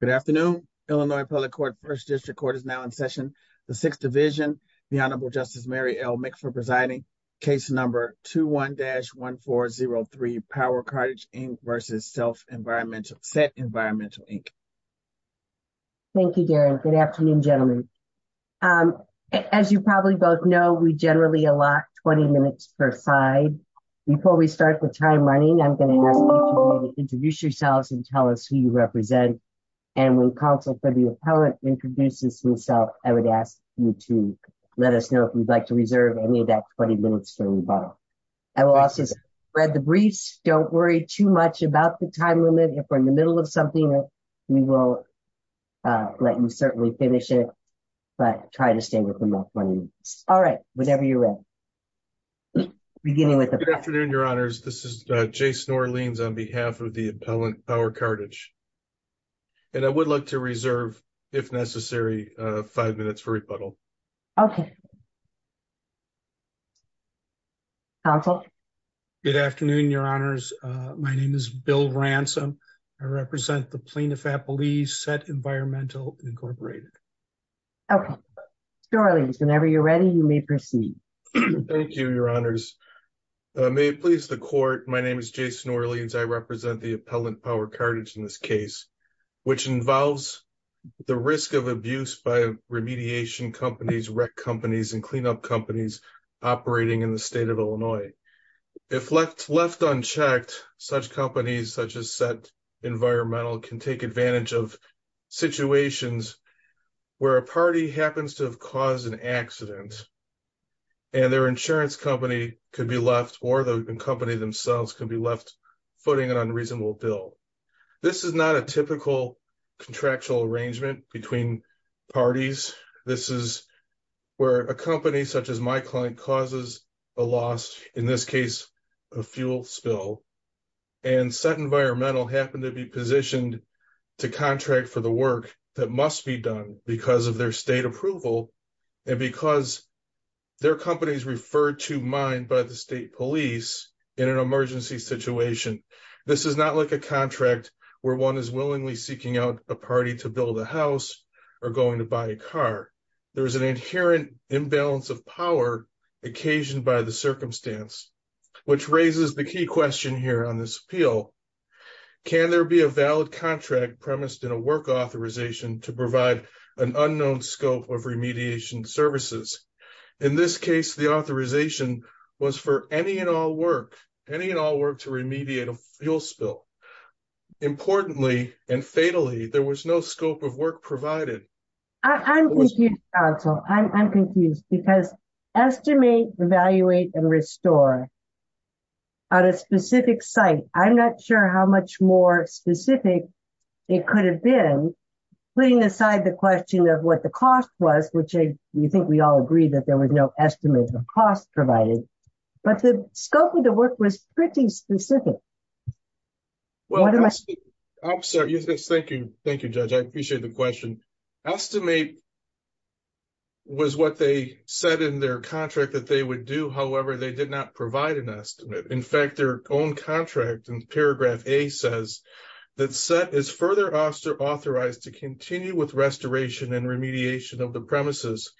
Good afternoon, Illinois Public Court, 1st District Court is now in session. The 6th Division, the Honorable Justice Mary L. Mick for presiding, case number 21-1403, Power Cartage, Inc. v. Set Environmental, Inc. Thank you, Darren. Good afternoon, gentlemen. As you probably both know, we generally allot 20 minutes per side. Before we start the time running, I'm going to ask you to introduce yourselves and tell us who you represent. And when counsel for the appellant introduces himself, I would ask you to let us know if you'd like to reserve any of that 20 minutes for rebuttal. I will also spread the briefs. Don't worry too much about the time limit. If we're in the middle of something, we will let you certainly finish it, but try to stay within that 20 minutes. All right, whenever you're ready. Beginning with the- Good afternoon, Your Honors. This is Jason Orleans on behalf of the appellant, Power Cartage. And I would like to reserve, if necessary, five minutes for rebuttal. Okay. Counsel? Good afternoon, Your Honors. My name is Bill Ransom. I represent the Plaintiff-Appellees, Set Environmental, Incorporated. Okay. Jason Orleans, whenever you're ready, you may proceed. Thank you, Your Honors. May it please the Court, my name is Jason Orleans. I represent the appellant, Power Cartage, in this case, which involves the risk of abuse by remediation companies, rec companies, and the use of chemical weapons. And I represent the Plaintiff-Appellees, Set Environmental, Incorporated, which is a group of insurance companies and cleanup companies operating in the state of Illinois. If left unchecked, such companies, such as Set Environmental, can take advantage of situations where a party happens to have caused an accident and their insurance company could be left, or the company themselves could be left footing an unreasonable bill. A company, such as my client, causes a loss, in this case, a fuel spill, and Set Environmental happened to be positioned to contract for the work that must be done because of their state approval, and because their company is referred to mine by the state police in an emergency situation. This is not like a contract where one is willingly seeking out a party to build a house or going to buy a car. There is an inherent imbalance of power occasioned by the circumstance, which raises the key question here on this appeal. Can there be a valid contract premised in a work authorization to provide an unknown scope of remediation services? In this case, the authorization was for any and all work, any and all work to remediate a fuel spill. Importantly, and fatally, there was no scope of work provided. I'm confused, counsel. I'm confused, because estimate, evaluate, and restore on a specific site, I'm not sure how much more specific it could have been, putting aside the question of what the cost was, which I think we all agree that there was no estimate of cost provided, but the scope of the work was pretty specific. Well, I'm sorry. Thank you. Thank you. Judge. I appreciate the question. Estimate was what they said in their contract that they would do. However, they did not provide an estimate. In fact, their own contract and paragraph a says that set is further authorized to continue with restoration and remediation of the premises.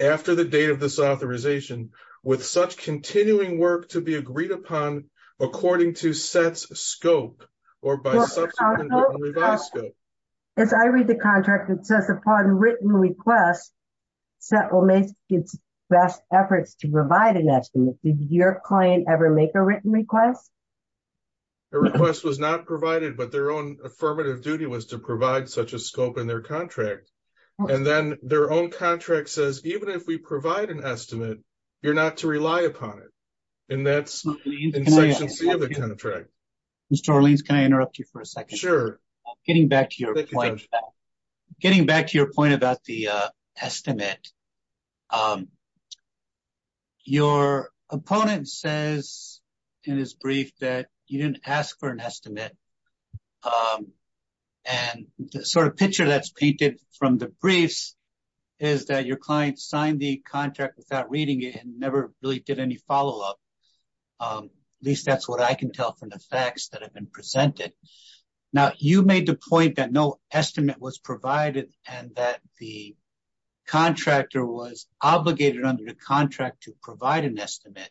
After the date of this authorization, with such continuing work to be agreed upon, according to sets scope or by. As I read the contract, it says upon written request. Set will make its best efforts to provide an estimate. Did your client ever make a written request? The request was not provided, but their own affirmative duty was to provide such a scope in their contract. And then their own contract says, even if we provide an estimate. You're not to rely upon it, and that's the contract. Mr. Orleans, can I interrupt you for a 2nd? Sure. Getting back to your point. Getting back to your point about the estimate. Your opponent says. In his brief that you didn't ask for an estimate. And sort of picture that's painted from the briefs. Is that your client signed the contract without reading it and never really did any follow up. At least that's what I can tell from the facts that have been presented. Now, you made the point that no estimate was provided and that the. Contractor was obligated under the contract to provide an estimate.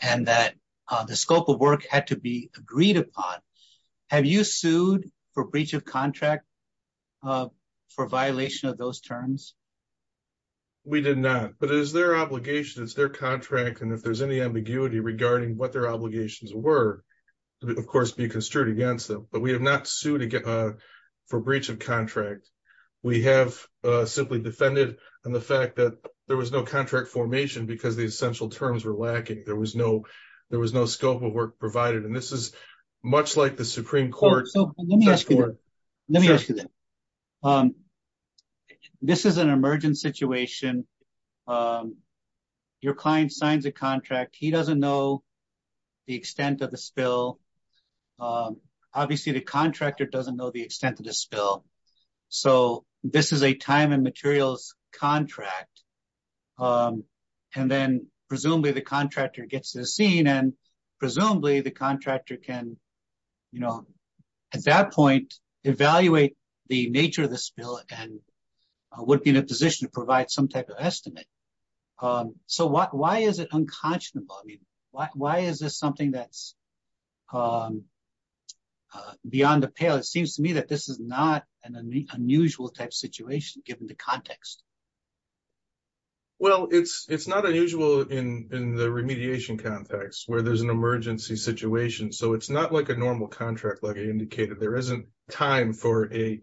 And that the scope of work had to be agreed upon. Have you sued for breach of contract? For violation of those terms. We did not, but it is their obligation is their contract. And if there's any ambiguity regarding what their obligations were. Of course, be construed against them, but we have not sued. For breach of contract, we have simply defended. And the fact that there was no contract formation because the essential terms were lacking. There was no, there was no scope of work provided and this is. Much like the Supreme Court. Let me ask you that. This is an emergent situation. Your client signs a contract, he doesn't know. The extent of the spill. Obviously, the contractor doesn't know the extent of the spill. So this is a time and materials contract. And then presumably the contractor gets to the scene and presumably the contractor can. You know, at that point, evaluate the nature of the spill and. Would be in a position to provide some type of estimate. So why is it unconscionable? I mean, why is this something that's. Beyond the pale, it seems to me that this is not an unusual type situation, given the context. Well, it's not unusual in the remediation context where there's an emergency situation. So it's not like a normal contract, like I indicated, there isn't. Time for a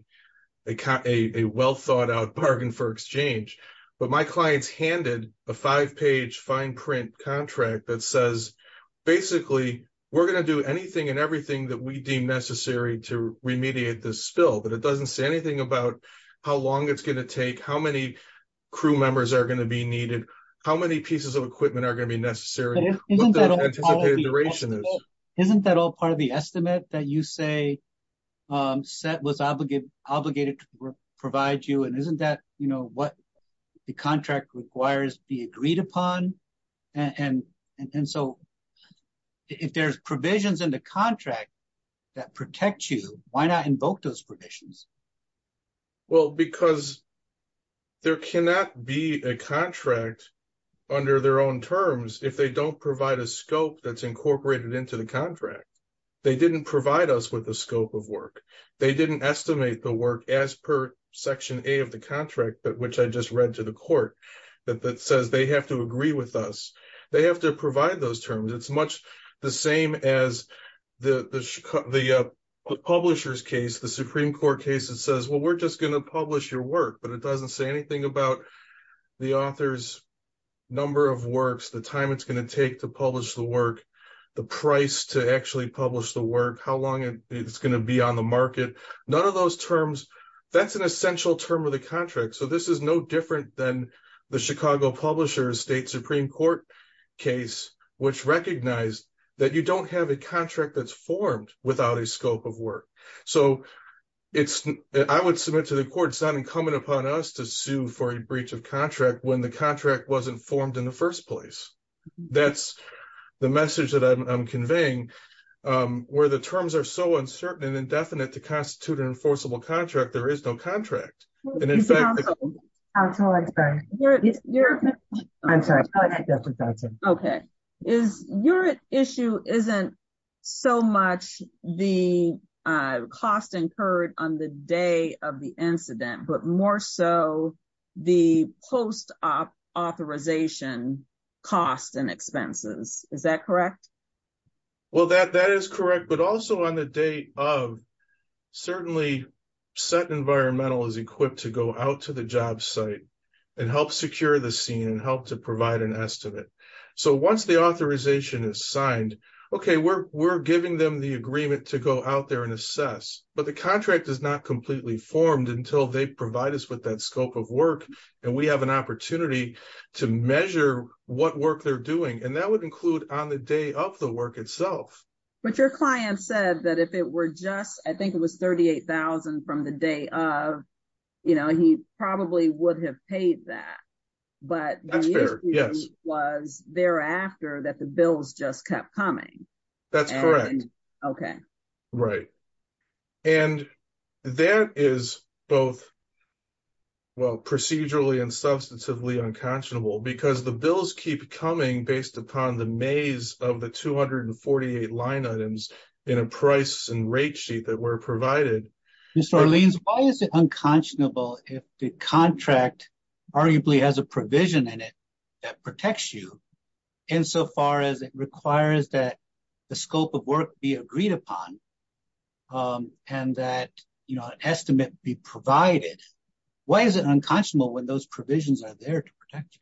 well thought out bargain for exchange. But my clients handed a 5 page fine print contract that says. Basically, we're going to do anything and everything that we deem necessary to remediate the spill. But it doesn't say anything about how long it's going to take. How many crew members are going to be needed? How many pieces of equipment are going to be necessary? Isn't that all part of the estimate that you say? Set was obligated to provide you. And isn't that what the contract requires be agreed upon? And so if there's provisions in the contract. That protect you, why not invoke those provisions? Well, because there cannot be a contract. Under their own terms, if they don't provide a scope that's incorporated into the contract. They didn't provide us with the scope of work. They didn't estimate the work as per section of the contract, which I just read to the court. That says they have to agree with us. They have to provide those terms. It's much the same as the publishers case, the Supreme Court case. It says, well, we're just going to publish your work. But it doesn't say anything about the author's number of works. The time it's going to take to publish the work. The price to actually publish the work. How long it's going to be on the market. None of those terms. That's an essential term of the contract. So this is no different than the Chicago Publishers State Supreme Court case. Which recognized that you don't have a contract that's formed without a scope of work. So I would submit to the court. It's not incumbent upon us to sue for a breach of contract. When the contract wasn't formed in the first place. That's the message that I'm conveying. Where the terms are so uncertain and indefinite to constitute an enforceable contract. There is no contract. And in fact, I'm sorry. Okay. Is your issue isn't so much the cost incurred on the day of the incident. But more so the post-authorization cost and expenses. Is that correct? Well, that is correct. But also on the day of. Certainly set environmental is equipped to go out to the job site. And help secure the scene and help to provide an estimate. So once the authorization is signed. Okay, we're giving them the agreement to go out there and assess. But the contract is not completely formed until they provide us with that scope of work. And we have an opportunity to measure what work they're doing. And that would include on the day of the work itself. But your client said that if it were just, I think it was 38,000 from the day of. You know, he probably would have paid that. But that's fair. Yes, was thereafter that the bills just kept coming. That's correct. Okay. Right. And that is both. Well, procedurally and substantively unconscionable, because the bills keep coming based upon the maze of the 248 line items. In a price and rate sheet that were provided. Mr. Orleans, why is it unconscionable if the contract. Arguably has a provision in it that protects you. Insofar as it requires that the scope of work be agreed upon. And that estimate be provided. Why is it unconscionable when those provisions are there to protect you?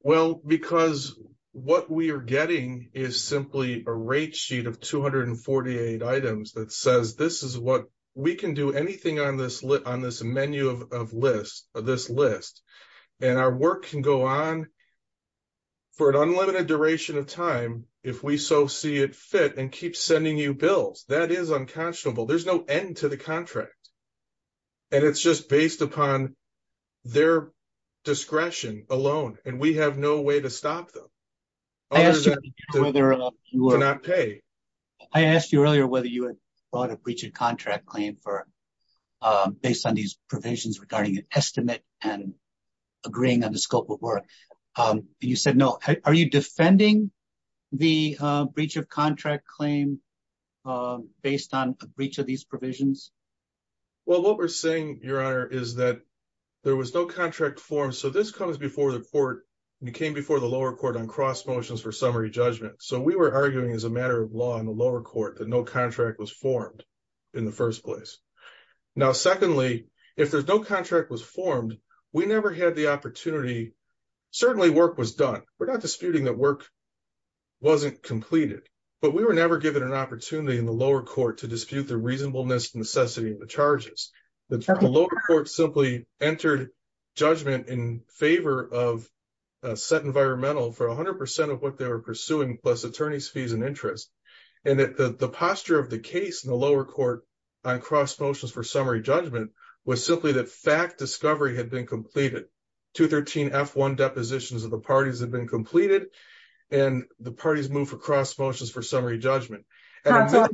Well, because what we are getting is simply a rate sheet of 248 items that says, this is what we can do anything on this on this menu of list of this list. And our work can go on. For an unlimited duration of time, if we so see it fit and keep sending you bills, that is unconscionable. There's no end to the contract. And it's just based upon their. Discretion alone, and we have no way to stop them. I asked you whether or not you will not pay. I asked you earlier, whether you had bought a breach of contract claim for. Based on these provisions regarding an estimate and. Agreeing on the scope of work and you said, no, are you defending. The breach of contract claim. Based on a breach of these provisions. Well, what we're saying your honor is that. There was no contract form, so this comes before the court. You came before the lower court on cross motions for summary judgment. So we were arguing as a matter of law in the lower court that no contract was formed. In the 1st place now, secondly, if there's no contract was formed, we never had the opportunity. Certainly work was done. We're not disputing that work. Wasn't completed, but we were never given an opportunity in the lower court to dispute the reasonableness necessity of the charges. The lower court simply entered judgment in favor of. Set environmental for 100% of what they were pursuing plus attorney's fees and interest. And the posture of the case in the lower court. On cross motions for summary judgment was simply that fact discovery had been completed. 213 F1 depositions of the parties have been completed. And the parties move for cross motions for summary judgment. So,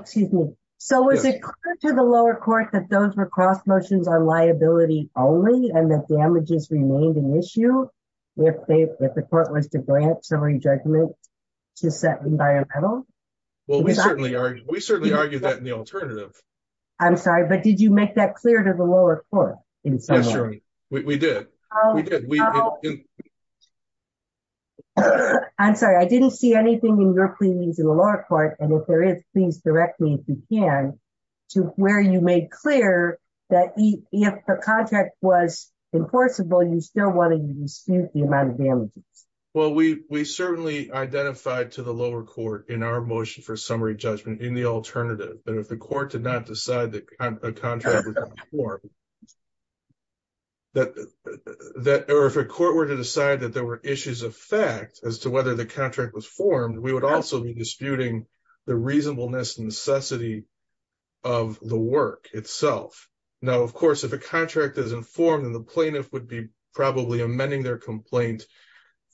excuse me. So, is it clear to the lower court that those were cross motions on liability only? And the damages remained an issue. If they, if the court was to grant summary judgment. To set environmental. Well, we certainly are. We certainly argue that in the alternative. I'm sorry, but did you make that clear to the lower court? In summary, we did. We did. I'm sorry, I didn't see anything in your cleanings in the lower court. And if there is, please direct me if you can. To where you made clear that if the contract was. Enforceable, you still want to dispute the amount of damages. Well, we, we certainly identified to the lower court in our motion for summary judgment in the that or if a court were to decide that there were issues of fact as to whether the contract was formed, we would also be disputing the reasonableness necessity. Of the work itself. Now, of course, if a contract is informed and the plaintiff would be probably amending their complaint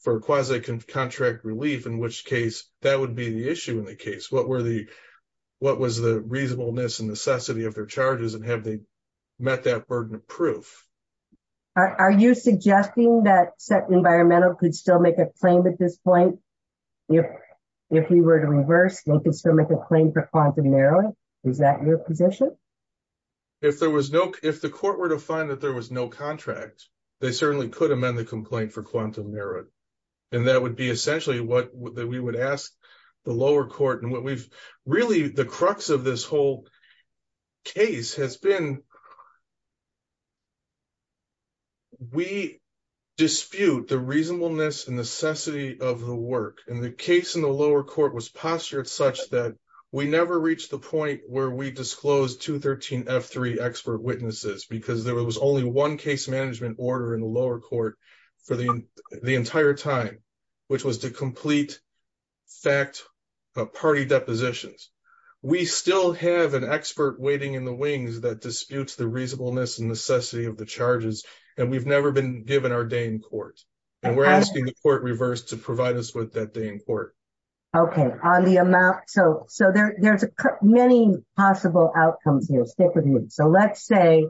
for quasi contract relief, in which case that would be the issue in the case. What were the. What was the reasonableness and necessity of their charges and have they. Met that burden of proof. Are you suggesting that environmental could still make a claim at this point? If we were to reverse, they can still make a claim for quantum narrowing. Is that your position? If there was no, if the court were to find that there was no contract. They certainly could amend the complaint for quantum merit. And that would be essentially what we would ask. The lower court and what we've really the crux of this whole. Case has been. We dispute the reasonableness and necessity of the work, and the case in the lower court was postured such that we never reached the point where we disclosed 213 F3 expert witnesses, because there was only 1 case management order in the lower court for the entire time. Which was to complete. Fact party depositions. We still have an expert waiting in the wings that disputes the reasonableness and necessity of the charges, and we've never been given our day in court. And we're asking the court reverse to provide us with that day in court. Okay, on the amount. So so there's many possible outcomes here. Stick with me. So let's say.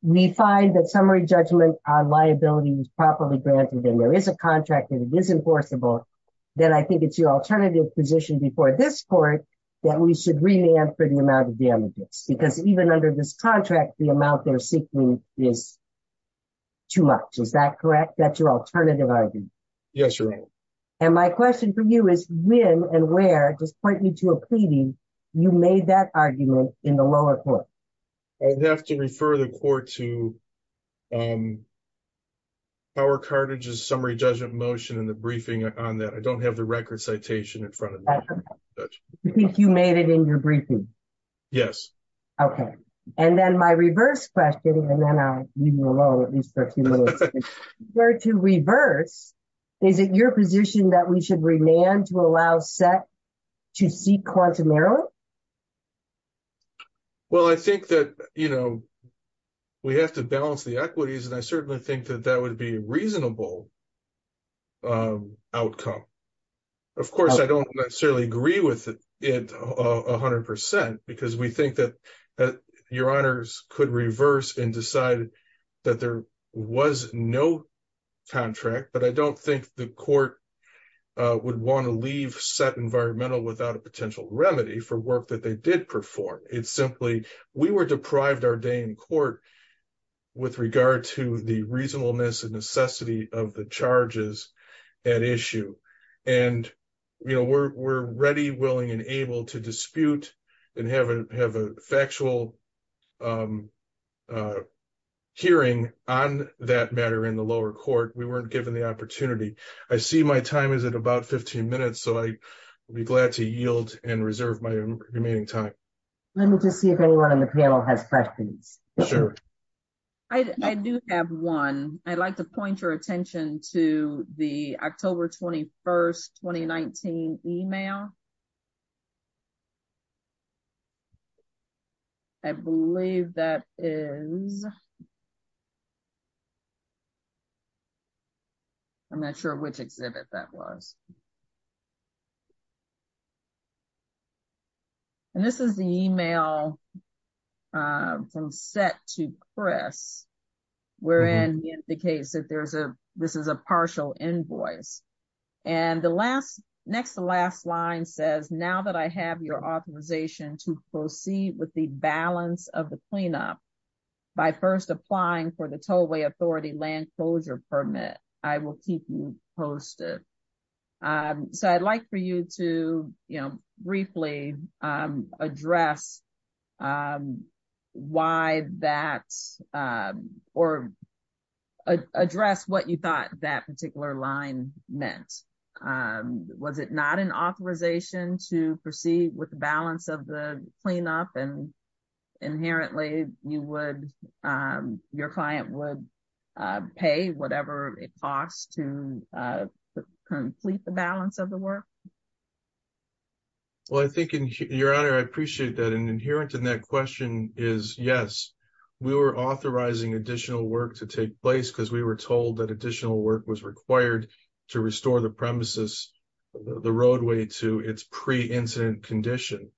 We find that summary judgment on liability was properly granted. And there is a contract that is enforceable. Then I think it's your alternative position before this court that we should really answer the amount of damages because even under this contract, the amount they're seeking. Is too much. Is that correct? That's your alternative argument? Yes, you're right. And my question for you is when and where just point me to a pleading. You made that argument in the lower court. I'd have to refer the court to. Our carriages summary judgment motion in the briefing on that. I don't have the record citation in front of that. You made it in your briefing. Yes. Okay. And then my reverse question, and then I leave you alone. At least for a few minutes. Where to reverse. Is it your position that we should remain to allow set to see quantum error? Well, I think that, you know. We have to balance the equities, and I certainly think that that would be a reasonable. Outcome. Of course, I don't necessarily agree with it 100% because we think that. Your honors could reverse and decide. That there was no. Contract, but I don't think the court. Would want to leave set environmental without a potential remedy for work that they did perform. It's simply we were deprived our day in court. With regard to the reasonableness and necessity of the charges. At issue and. You know, we're ready, willing and able to dispute. And have a have a factual. Hearing on that matter in the lower court, we weren't given the opportunity. I see my time is at about 15 minutes, so I. Be glad to yield and reserve my remaining time. Let me just see if anyone on the panel has questions. I do have 1. I'd like to point your attention to the October 21st, 2019 email. I believe that is. I'm not sure which exhibit that was. And this is the email. From set to press. We're in the case that there's a, this is a partial invoice. And the last next to last line says, now that I have your authorization to proceed with the balance of the cleanup. By 1st, applying for the tollway authority land closure permit. I will keep you posted. So I'd like for you to briefly address. Why that or. Address what you thought that particular line meant. Was it not an authorization to proceed with the balance of the cleanup and. Inherently, you would your client would. Pay whatever it costs to. Complete the balance of the work. Well, I think in your honor, I appreciate that an inherent in that question is yes. We were authorizing additional work to take place because we were told that additional work was required to restore the premises. The roadway to its pre incident condition.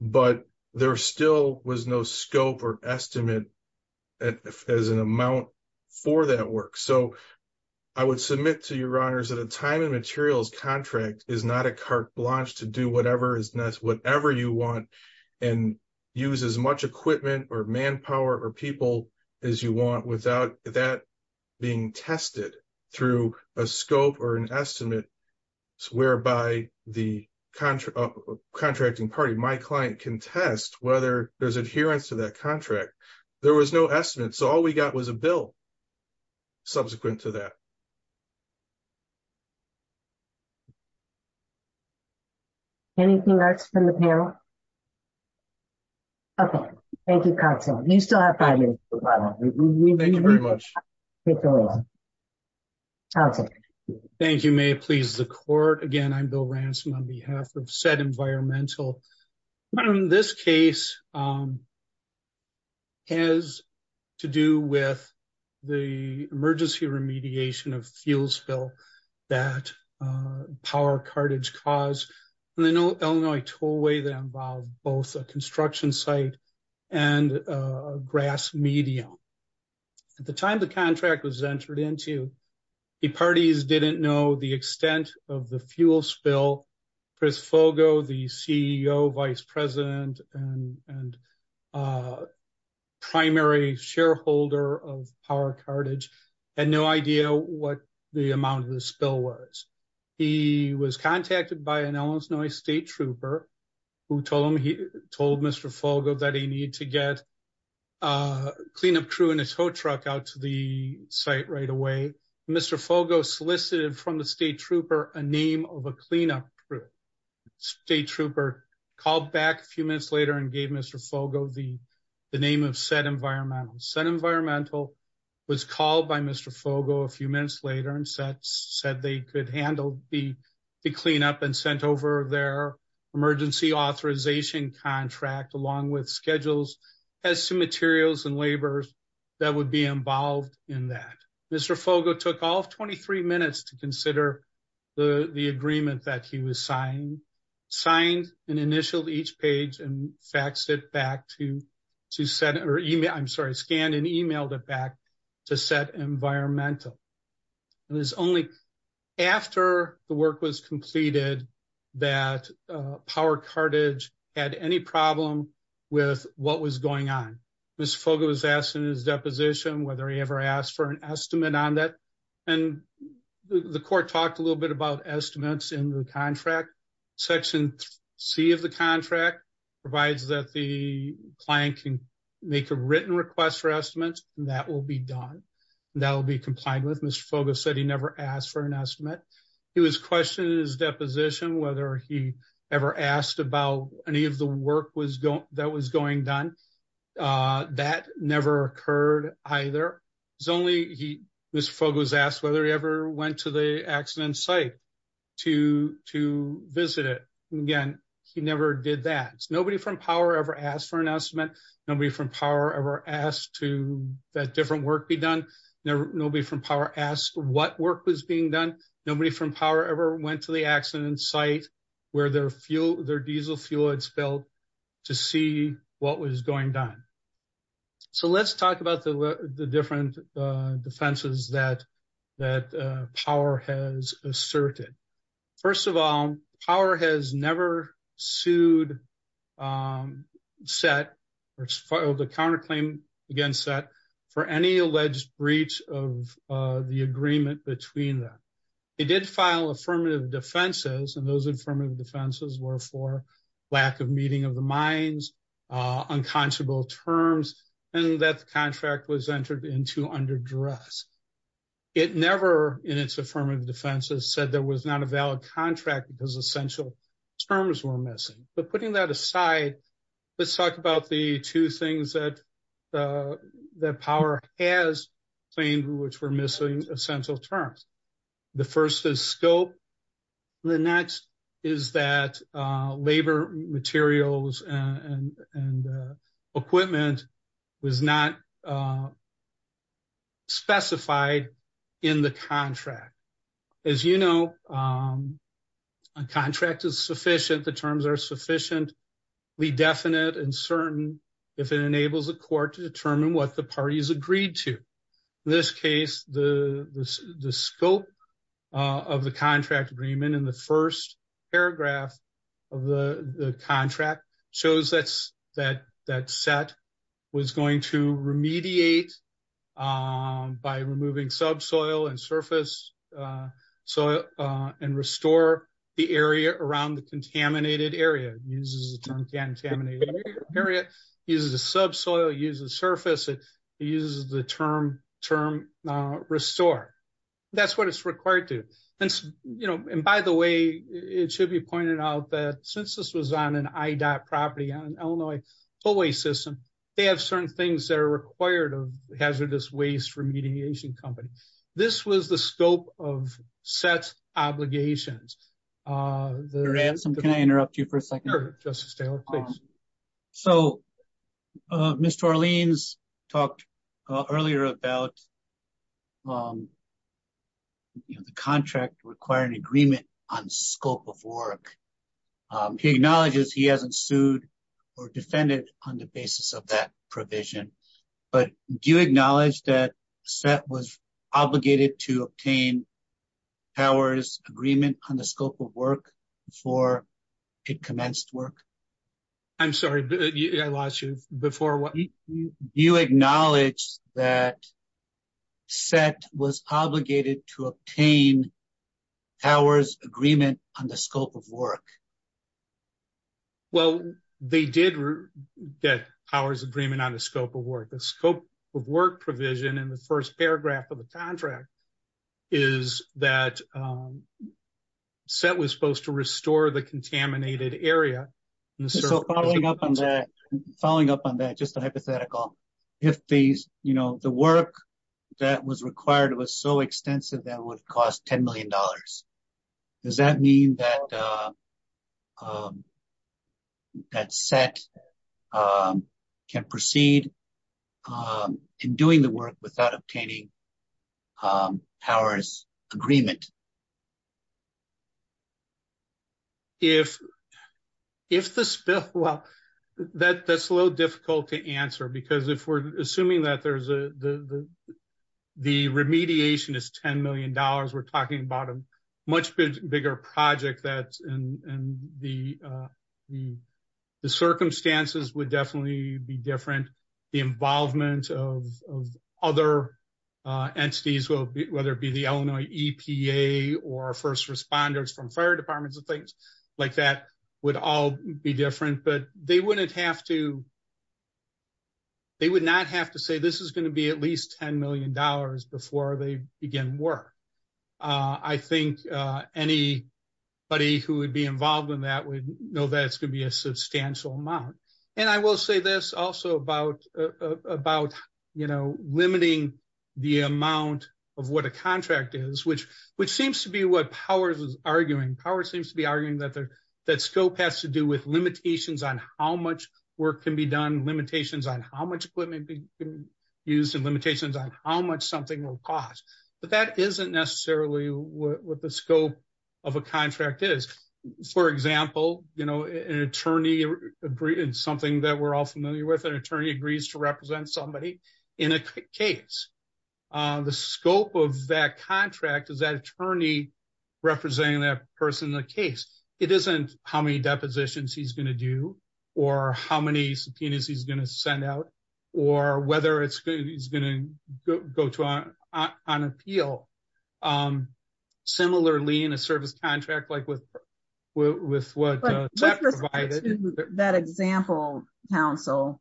But there still was no scope or estimate. As an amount for that work, so. I would submit to your honors at a time and materials contract is not a carte blanche to whatever is whatever you want and use as much equipment or manpower or people as you want without that. Being tested through a scope or an estimate. Whereby the contract contracting party, my client can test whether there's adherence to that contract. There was no estimate. So all we got was a bill. Subsequent to that. Anything else from the panel. Okay, thank you. You still have 5 minutes. Thank you very much. Thank you may please the court again. I'm Bill Ransom on behalf of set environmental. This case. Has to do with. The emergency remediation of fuel spill. That power cartage cause. And they know Illinois tool way that involve both a construction site. And a grass medium. At the time, the contract was entered into. The parties didn't know the extent of the fuel spill. Chris Fogo, the CEO, vice president and. Primary shareholder of power cartage. And no idea what the amount of the spill was. He was contacted by an Illinois state trooper. Who told him he told Mr. Fogo that he needed to get. A clean up crew in a tow truck out to the site right away. Mr. Fogo solicited from the state trooper, a name of a cleanup crew. State trooper called back a few minutes later and gave Mr. Fogo the. The name of set environmental set environmental. Was called by Mr. Fogo a few minutes later and said, said they could handle the. The cleanup and sent over their emergency authorization contract along with schedules. As to materials and labors. That would be involved in that. Mr. Fogo took off 23 minutes to consider. The, the agreement that he was signed. Signed and initialed each page and faxed it back to. To send or email, I'm sorry, scanned and emailed it back to set environmental. And there's only after the work was completed. That power cartage had any problem with what was going on. Mr. Fogo was asked in his deposition, whether he ever asked for an estimate on that. And the court talked a little bit about estimates in the contract. Section C of the contract. Provides that the client can make a written request for estimates and that will be done. That will be complying with Mr. Fogo said he never asked for an estimate. He was questioned in his deposition, whether he ever asked about any of the work was that was going done. That never occurred either. He was asked whether he ever went to the accident site. To to visit it again. He never did that. Nobody from power ever asked for an estimate. Nobody from power ever asked to that different work be done. Nobody from power asked what work was being done. Nobody from power ever went to the accident site. Where their fuel, their diesel fuel had spilled. To see what was going down. So let's talk about the different defenses that that power has asserted. First of all, power has never sued. Set or filed a counterclaim against that for any alleged breach of the agreement between them. It did file affirmative defenses and those affirmative defenses were for lack of meeting of the minds. Unconscionable terms and that the contract was entered into under duress. It never in its affirmative defenses said there was not a valid contract because essential terms were missing. But putting that aside, let's talk about the two things that that power has claimed, which were missing essential terms. The first is scope. The next is that labor materials and equipment was not specified in the contract. As you know, a contract is sufficient. The terms are sufficiently definite and certain if it enables a court to determine what the parties agreed to. In this case, the scope of the contract agreement in the first paragraph of the contract shows that that set was going to remediate by removing subsoil and surface soil and restore the area around the contaminated area. Uses the term contaminated area, uses the subsoil, uses surface, it uses the term, term restore. That's what it's required to. And, you know, and by the way, it should be pointed out that since this was on an IDOT property on Illinois tollway system, they have certain things that are required of hazardous waste remediation company. This was the scope of set obligations. Uh, the ransom. Can I interrupt you for a second? So, uh, Mr. Orleans talked earlier about, um, you know, the contract requiring agreement on scope of work. He acknowledges he hasn't sued or defended on the basis of that provision, but do you to obtain powers agreement on the scope of work before it commenced work? I'm sorry, I lost you before. You acknowledge that set was obligated to obtain powers agreement on the scope of work? Well, they did get powers agreement on the scope of work, the scope of work provision in the first paragraph of the contract is that, um, set was supposed to restore the contaminated area. So following up on that, following up on that, just a hypothetical, if these, you know, the work that was required was so extensive that would cost $10 million. Does that mean that, uh, um, that set, um, can proceed, um, in doing the work without obtaining, um, powers agreement. If, if the spill, well, that that's a little difficult to answer because if we're assuming that there's a, the, the, the remediation is $10 million, we're talking about a much bigger project that, and the, uh, the, the circumstances would definitely be different. The involvement of, of other, uh, entities will be, whether it be the Illinois EPA or first responders from fire departments and things like that would all be different, but they wouldn't have to, they would not have to say this is going to be at least $10 million before they begin work. Uh, I think, uh, any buddy who would be involved in that would know that it's going to be a substantial amount. And I will say this also about, uh, about, you know, limiting the amount of what a contract is, which, which seems to be what powers is arguing. Powers seems to be arguing that there, that scope has to do with limitations on how much work can be done, limitations on how much equipment can be used and limitations on how much something will cost. But that isn't necessarily what the scope of a contract is. For example, you know, an attorney agreed in something that we're all familiar with an attorney agrees to represent somebody in a case. Uh, the scope of that contract is that attorney representing that person in the case. It isn't how many depositions he's going to do or how many subpoenas he's going to send out or whether it's good. He's going to go to on, on appeal. Um, similarly in a service contract, like with, with, with what that example council,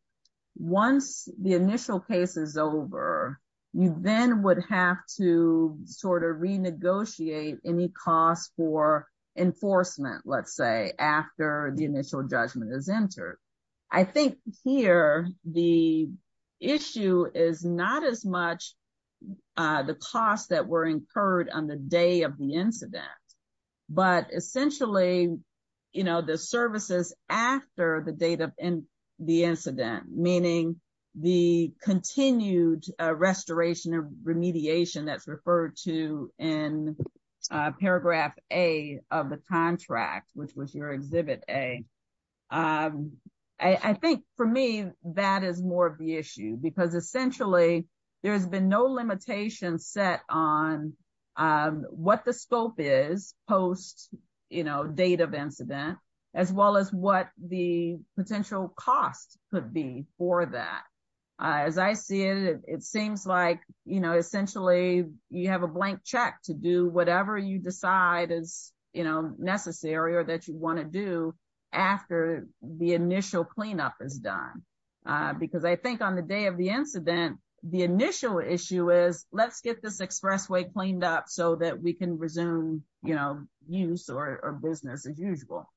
once the initial case is over, you then would have to sort of renegotiate any costs for enforcement, let's say, after the initial judgment is entered. I think here, the issue is not as much. Uh, the costs that were incurred on the day of the incident, but essentially, you know, the services after the date of the incident, meaning the continued restoration of remediation that's referred to in paragraph a of the contract, which was your exhibit a, um, I think for me, that is more of the issue because essentially there has been no limitation set on, um, what the scope is post, you know, date of incident, as well as what the potential costs could be for that. As I see it, it seems like, you know, essentially you have a blank check to do whatever you decide is, you know, necessary or that you want to do after the initial cleanup is done. Because I think on the day of the incident, the initial issue is let's get this expressway cleaned up so that we can resume, you know, use or business as usual.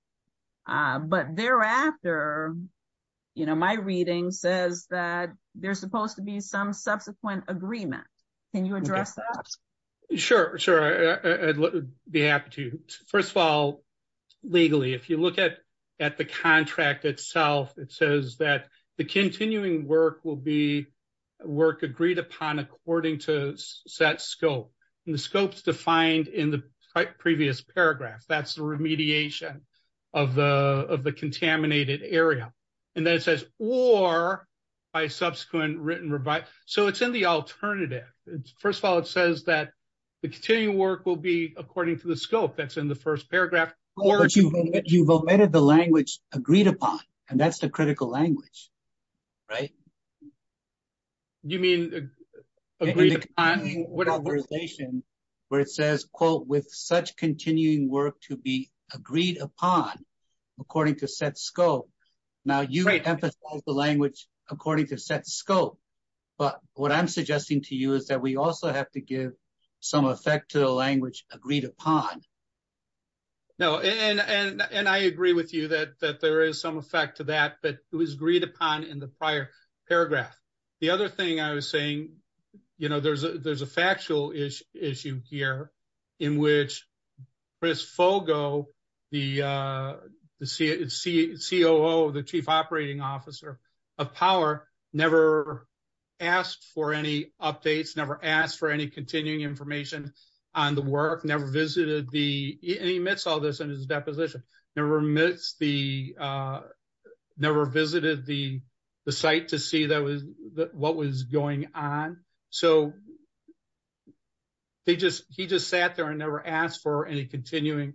But thereafter, you know, my reading says that there's supposed to be some subsequent agreement. Can you address that? Sure, sure, I'd be happy to. First of all, legally, if you look at at the contract itself, it says that the continuing work will be work agreed upon according to set scope. And the scope's defined in the previous paragraph. That's the remediation of the contaminated area. And then it says, or by subsequent written review. So it's in the alternative. First of all, it says that the continuing work will be according to the scope that's in the first paragraph. But you've omitted the language agreed upon, and that's the critical language, right? You mean agreed upon? In the conversation where it says, quote, with such continuing work to be agreed upon according to set scope. Now, you emphasize the language according to set scope. But what I'm suggesting to you is that we also have to give some effect to the language agreed upon. No, and I agree with you that there is some effect to that, but it was agreed upon in the prior paragraph. The other thing I was saying, there's a factual issue here in which Chris Fogo, the COO, the Chief Operating Officer of Power, never asked for any updates, never asked for any continuing information on the work, never visited the, and he admits all this in his deposition, never visited the site to see what was going on. So he just sat there and never asked for any continuing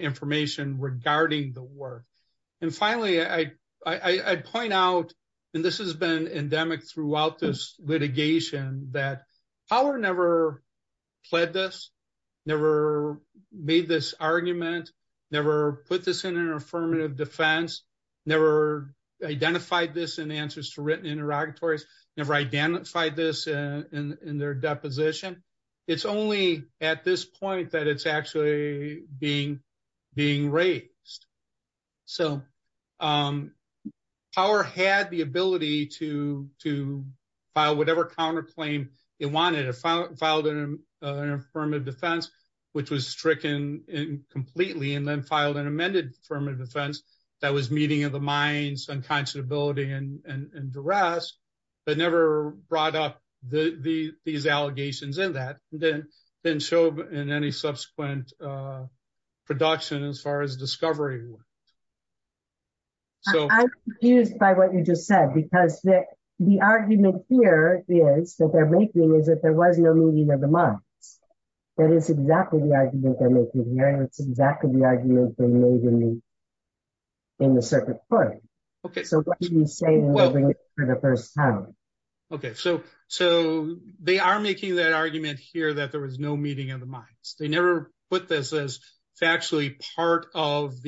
information regarding the work. And finally, I'd point out, and this has been endemic throughout this litigation, that Power never pled this, never made this argument, never put this in an affirmative defense, never identified this in answers to written interrogatories, never identified this in their deposition. It's only at this point that it's actually being raised. So Power had the ability to file whatever counterclaim it wanted. It filed an affirmative defense, which was stricken completely, and then filed an amended affirmative defense that was meeting of the minds, unconscionability, and duress, but never brought up these allegations in that, didn't show in any subsequent production as far as discovery went. So- I'm confused by what you just said, because the argument here is, that they're making is that there was no meeting of the minds. That is exactly the argument they're making here, and it's exactly the argument they made in the circuit court. Okay. So what do you say to moving it for the first time? They never put this as factually part of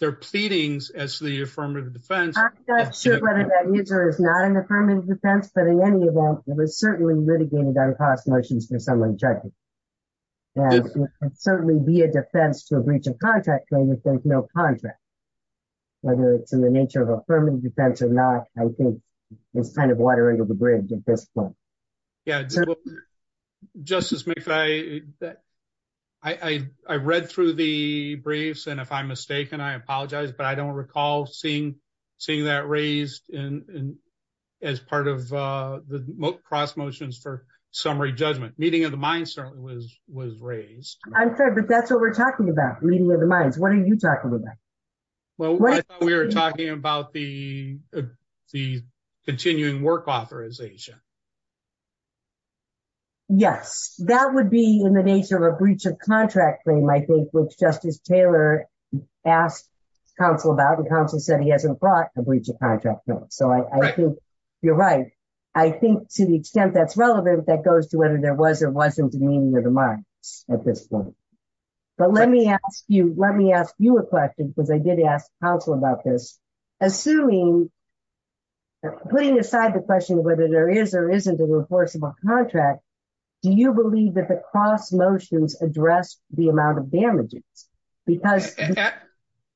their pleadings as the affirmative defense. I'm not sure whether that user is not an affirmative defense, but in any event, it was certainly litigated on cross motions for some objective, and certainly be a defense to a breach of contract claim if there's no contract. Whether it's in the nature of affirmative defense or not, I think it's kind of water under the bridge at this point. Yeah, Justice McPherson, I read through the briefs, and if I'm mistaken, I apologize, but I don't recall seeing that raised as part of the cross motions for summary judgment. Meeting of the minds certainly was raised. I'm sorry, but that's what we're talking about, meeting of the minds. What are you talking about? Well, we were talking about the continuing work authorization. Yes, that would be in the nature of a breach of contract claim, I think, which Justice Taylor asked counsel about, and counsel said he hasn't brought a breach of contract. So I think you're right. I think to the extent that's relevant, that goes to whether there was or wasn't a meeting of the minds at this point. But let me ask you a question, because I did ask counsel about this. Assuming, putting aside the question of whether there is or isn't a reforceable contract, do you believe that the cross motions address the amount of damages?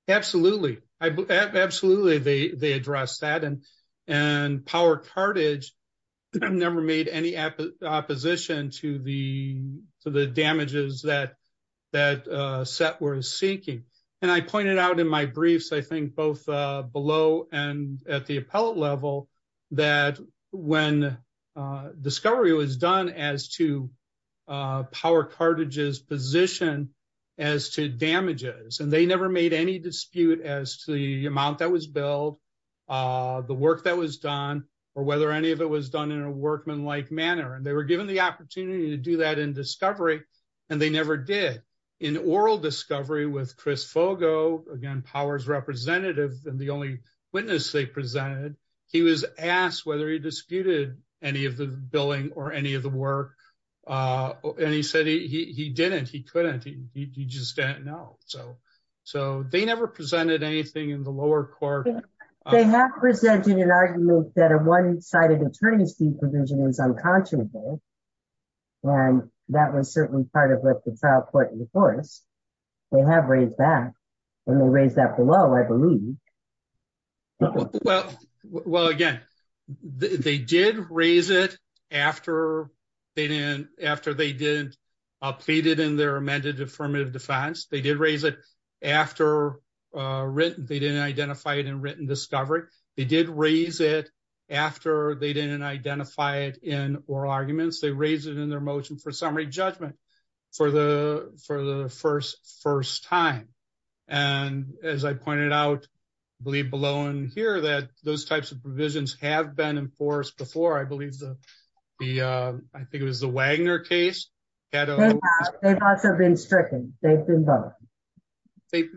Absolutely. Absolutely, they address that. And Power Cartridge never made any opposition to the damages that Seth was seeking. And I pointed out in my briefs, I think both below and at the appellate level, that when discovery was done as to Power Cartridge's position as to damages, and they never made any dispute as to the amount that was billed, the work that was done, or whether any of it was done in a workmanlike manner. And they were given the opportunity to do that in discovery, and they never did. In oral discovery with Chris Fogo, again, Power's representative and the only witness they presented, he was asked whether he disputed any of the billing or any of the work. And he said he didn't, he couldn't, he just didn't know. So they never presented anything in the lower court. They have presented an argument that a one-sided attorney's due provision is unconscionable. And that was certainly part of what the trial court enforced. They have raised that, and they raised that below, I believe. Well, again, they did raise it after they didn't, after they didn't in their amended affirmative defense. They did raise it after written, they didn't identify it in written discovery. They did raise it after they didn't identify it in oral arguments. They raised it in their motion for summary judgment for the first time. And as I pointed out, I believe below in here that those types of provisions have been enforced before, I believe the, I think it was the Wagner case. They've also been stricken, they've been both. They've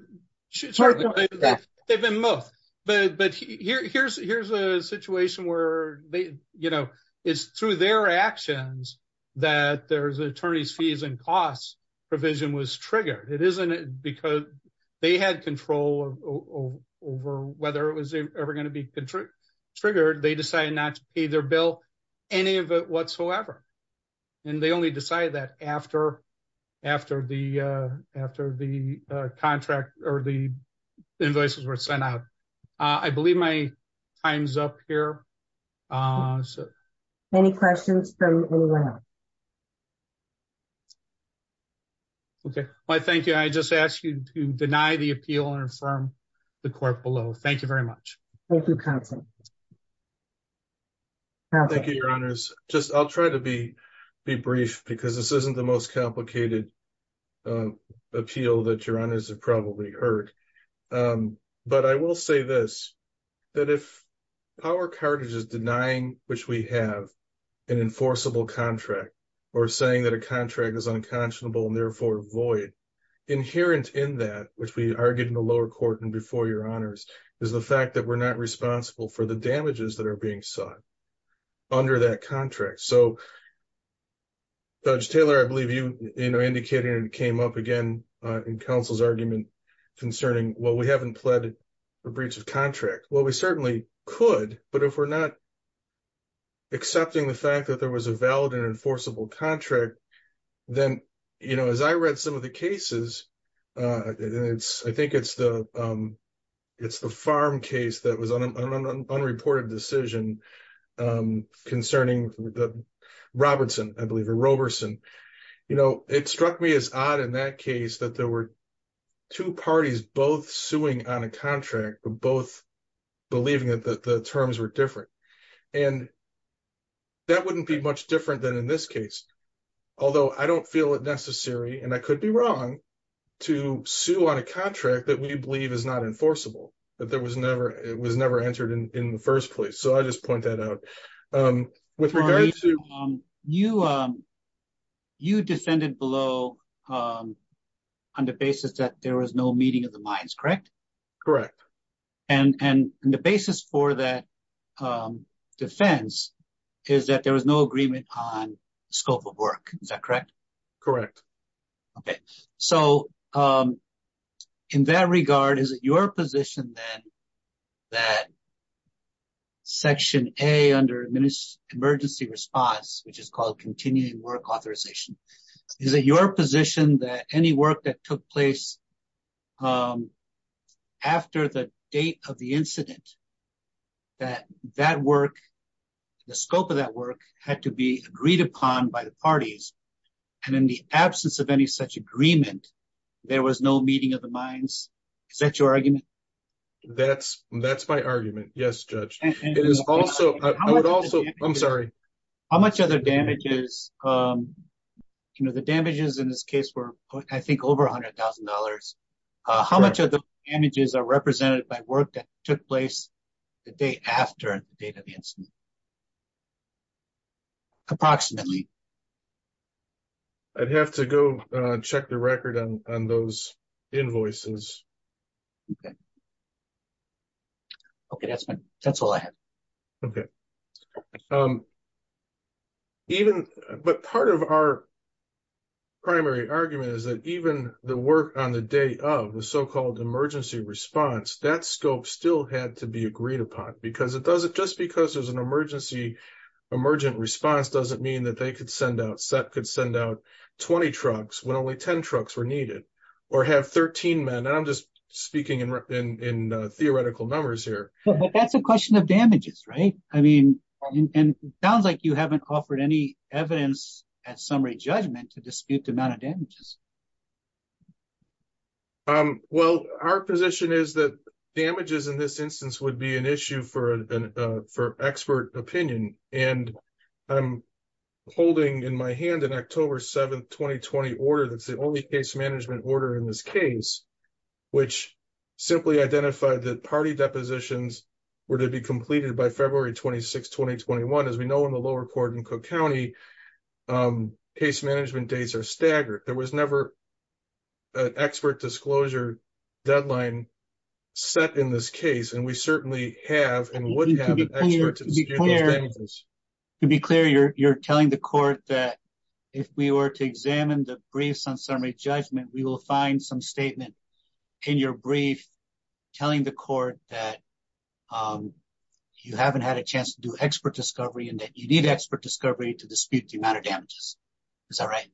been both, but here's a situation where they, you know, it's through their actions that there's attorney's fees and costs provision was triggered. It isn't because they had control over whether it was ever going to be triggered. They decided not to pay their bill, any of it whatsoever. And they only decided that after the contract or the invoices were sent out. I believe my time's up here. Any questions from anyone else? Okay, well, thank you. I just asked you to deny the appeal and affirm the court below. Thank you very much. Thank you, counsel. Thank you, your honors. Just, I'll try to be brief because this isn't the most complicated appeal that your honors have probably heard. But I will say this, that if power cartridges denying, which we have an enforceable contract or saying that a contract is unconscionable and therefore void inherent in that, which we argued in the lower court and before your honors is the fact that we're not responsible for the damages that are being sought under that contract. So, Judge Taylor, I believe you indicated and it came up again in counsel's argument concerning, well, we haven't pledged a breach of contract. Well, we certainly could, but if we're not accepting the fact that there was a valid and enforceable contract, then as I read some of the cases, I think it's the farm case that unreported decision concerning the Robertson, I believe a Roberson, you know, it struck me as odd in that case that there were two parties, both suing on a contract, but both believing that the terms were different and that wouldn't be much different than in this case. Although I don't feel it necessary and I could be wrong to sue on a contract that we believe is not enforceable, but there was never, it was never answered in the first place. So I just point that out with regards to you. You descended below on the basis that there was no meeting of the minds, correct? Correct. And the basis for that defense is that there was no agreement on scope of work. Is that correct? Correct. Okay. So in that regard, is it your position then that section A under emergency response, which is called continuing work authorization, is it your position that any work that took place after the date of the incident, that that work, the scope of that work had to be agreed upon by the parties. And in the absence of any such agreement, there was no meeting of the minds. Is that your argument? That's, that's my argument. Yes, judge. It is also, I would also, I'm sorry. How much other damages, you know, the damages in this case were, I think, over a hundred thousand dollars. How much of the damages are represented by work that took place the day after the date of the incident? Approximately. I'd have to go check the record on those invoices. Okay. Okay, that's my, that's all I have. Okay. Even, but part of our primary argument is that even the work on the day of the so-called emergency response, that scope still had to be agreed upon because it doesn't, just because there's an emergency emergent response, doesn't mean that they could send out, SEP could send out 20 trucks when only 10 trucks were needed or have 13 men. And I'm just speaking in theoretical numbers here. But that's a question of damages, right? I mean, and it sounds like you haven't offered any evidence at some rate judgment to dispute the amount of damages. Um, well, our position is that damages in this instance would be an issue for an, for expert opinion. And I'm holding in my hand in October 7th, 2020 order. That's the only case management order in this case, which simply identified that party depositions were to be completed by February 26th, 2021. As we know, in the lower court in Cook County, case management dates are staggered. There was never an expert disclosure deadline set in this case. And we certainly have and would have an expert to be clear. You're, you're telling the court that if we were to examine the briefs on summary judgment, we will find some statement in your brief telling the court that, um, you haven't had a chance to do expert discovery and that you need expert discovery to dispute the amount of damages. Is that right?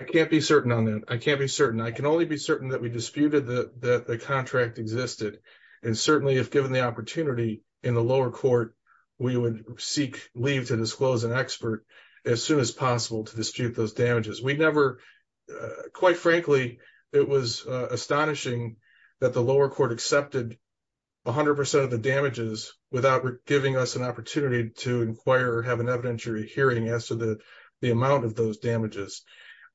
I can't be certain on that. I can't be certain. I can only be certain that we disputed the, that the contract existed. And certainly if given the opportunity in the lower court, we would seek leave to disclose an expert as soon as possible to dispute those damages. We never, uh, quite frankly, it was astonishing that the lower court accepted 100% of the damages without giving us an opportunity to inquire or have an evidentiary hearing as to the, the amount of those damages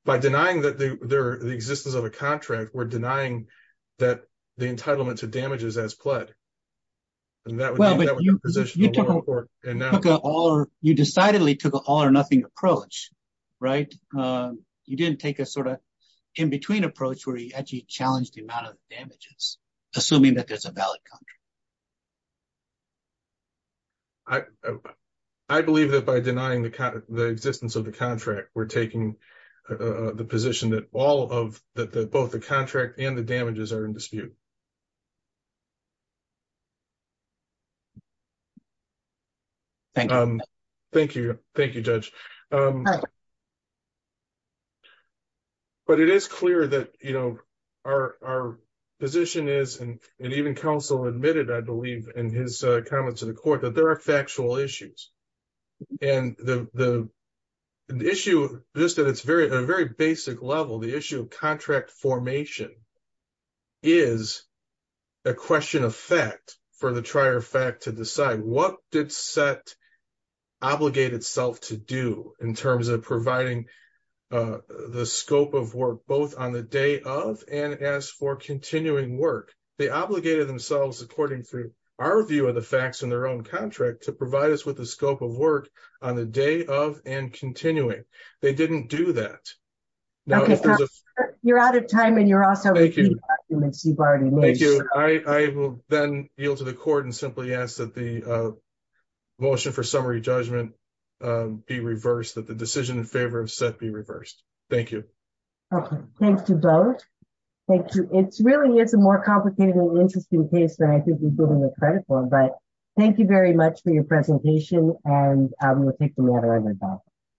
by denying that there, the existence of a contract, we're denying that the entitlement to damages as pledged. And that would, that would be the position of the lower court. You decidedly took an all or nothing approach, right? You didn't take a sort of in-between approach where you actually challenged the amount of damages, assuming that there's a valid contract. I, I believe that by denying the, the existence of the contract, we're taking the position that all of the, the, both the contract and the damages are in dispute. Thank you. Thank you, judge. Um, but it is clear that, you know, our, our position is, and even counsel admitted, I believe in his comments to the court that there are factual issues and the, the issue just that it's very, a very basic level. The issue of contract formation is a question of fact for the trier fact to decide what set. Obligate itself to do in terms of providing the scope of work, both on the day of, and as for continuing work, they obligated themselves, according to our view of the facts in their own contract to provide us with the scope of work on the day of and continuing. They didn't do that. You're out of time. And you're also, thank you. Thank you. I will then yield to the court and simply ask that the motion for summary judgment be reversed that the decision in favor of set be reversed. Thank you. Okay. Thanks to both. Thank you. It's really, it's a more complicated and interesting case than I think we've given the credit for, but thank you very much for your presentation. And I'm going to take the matter.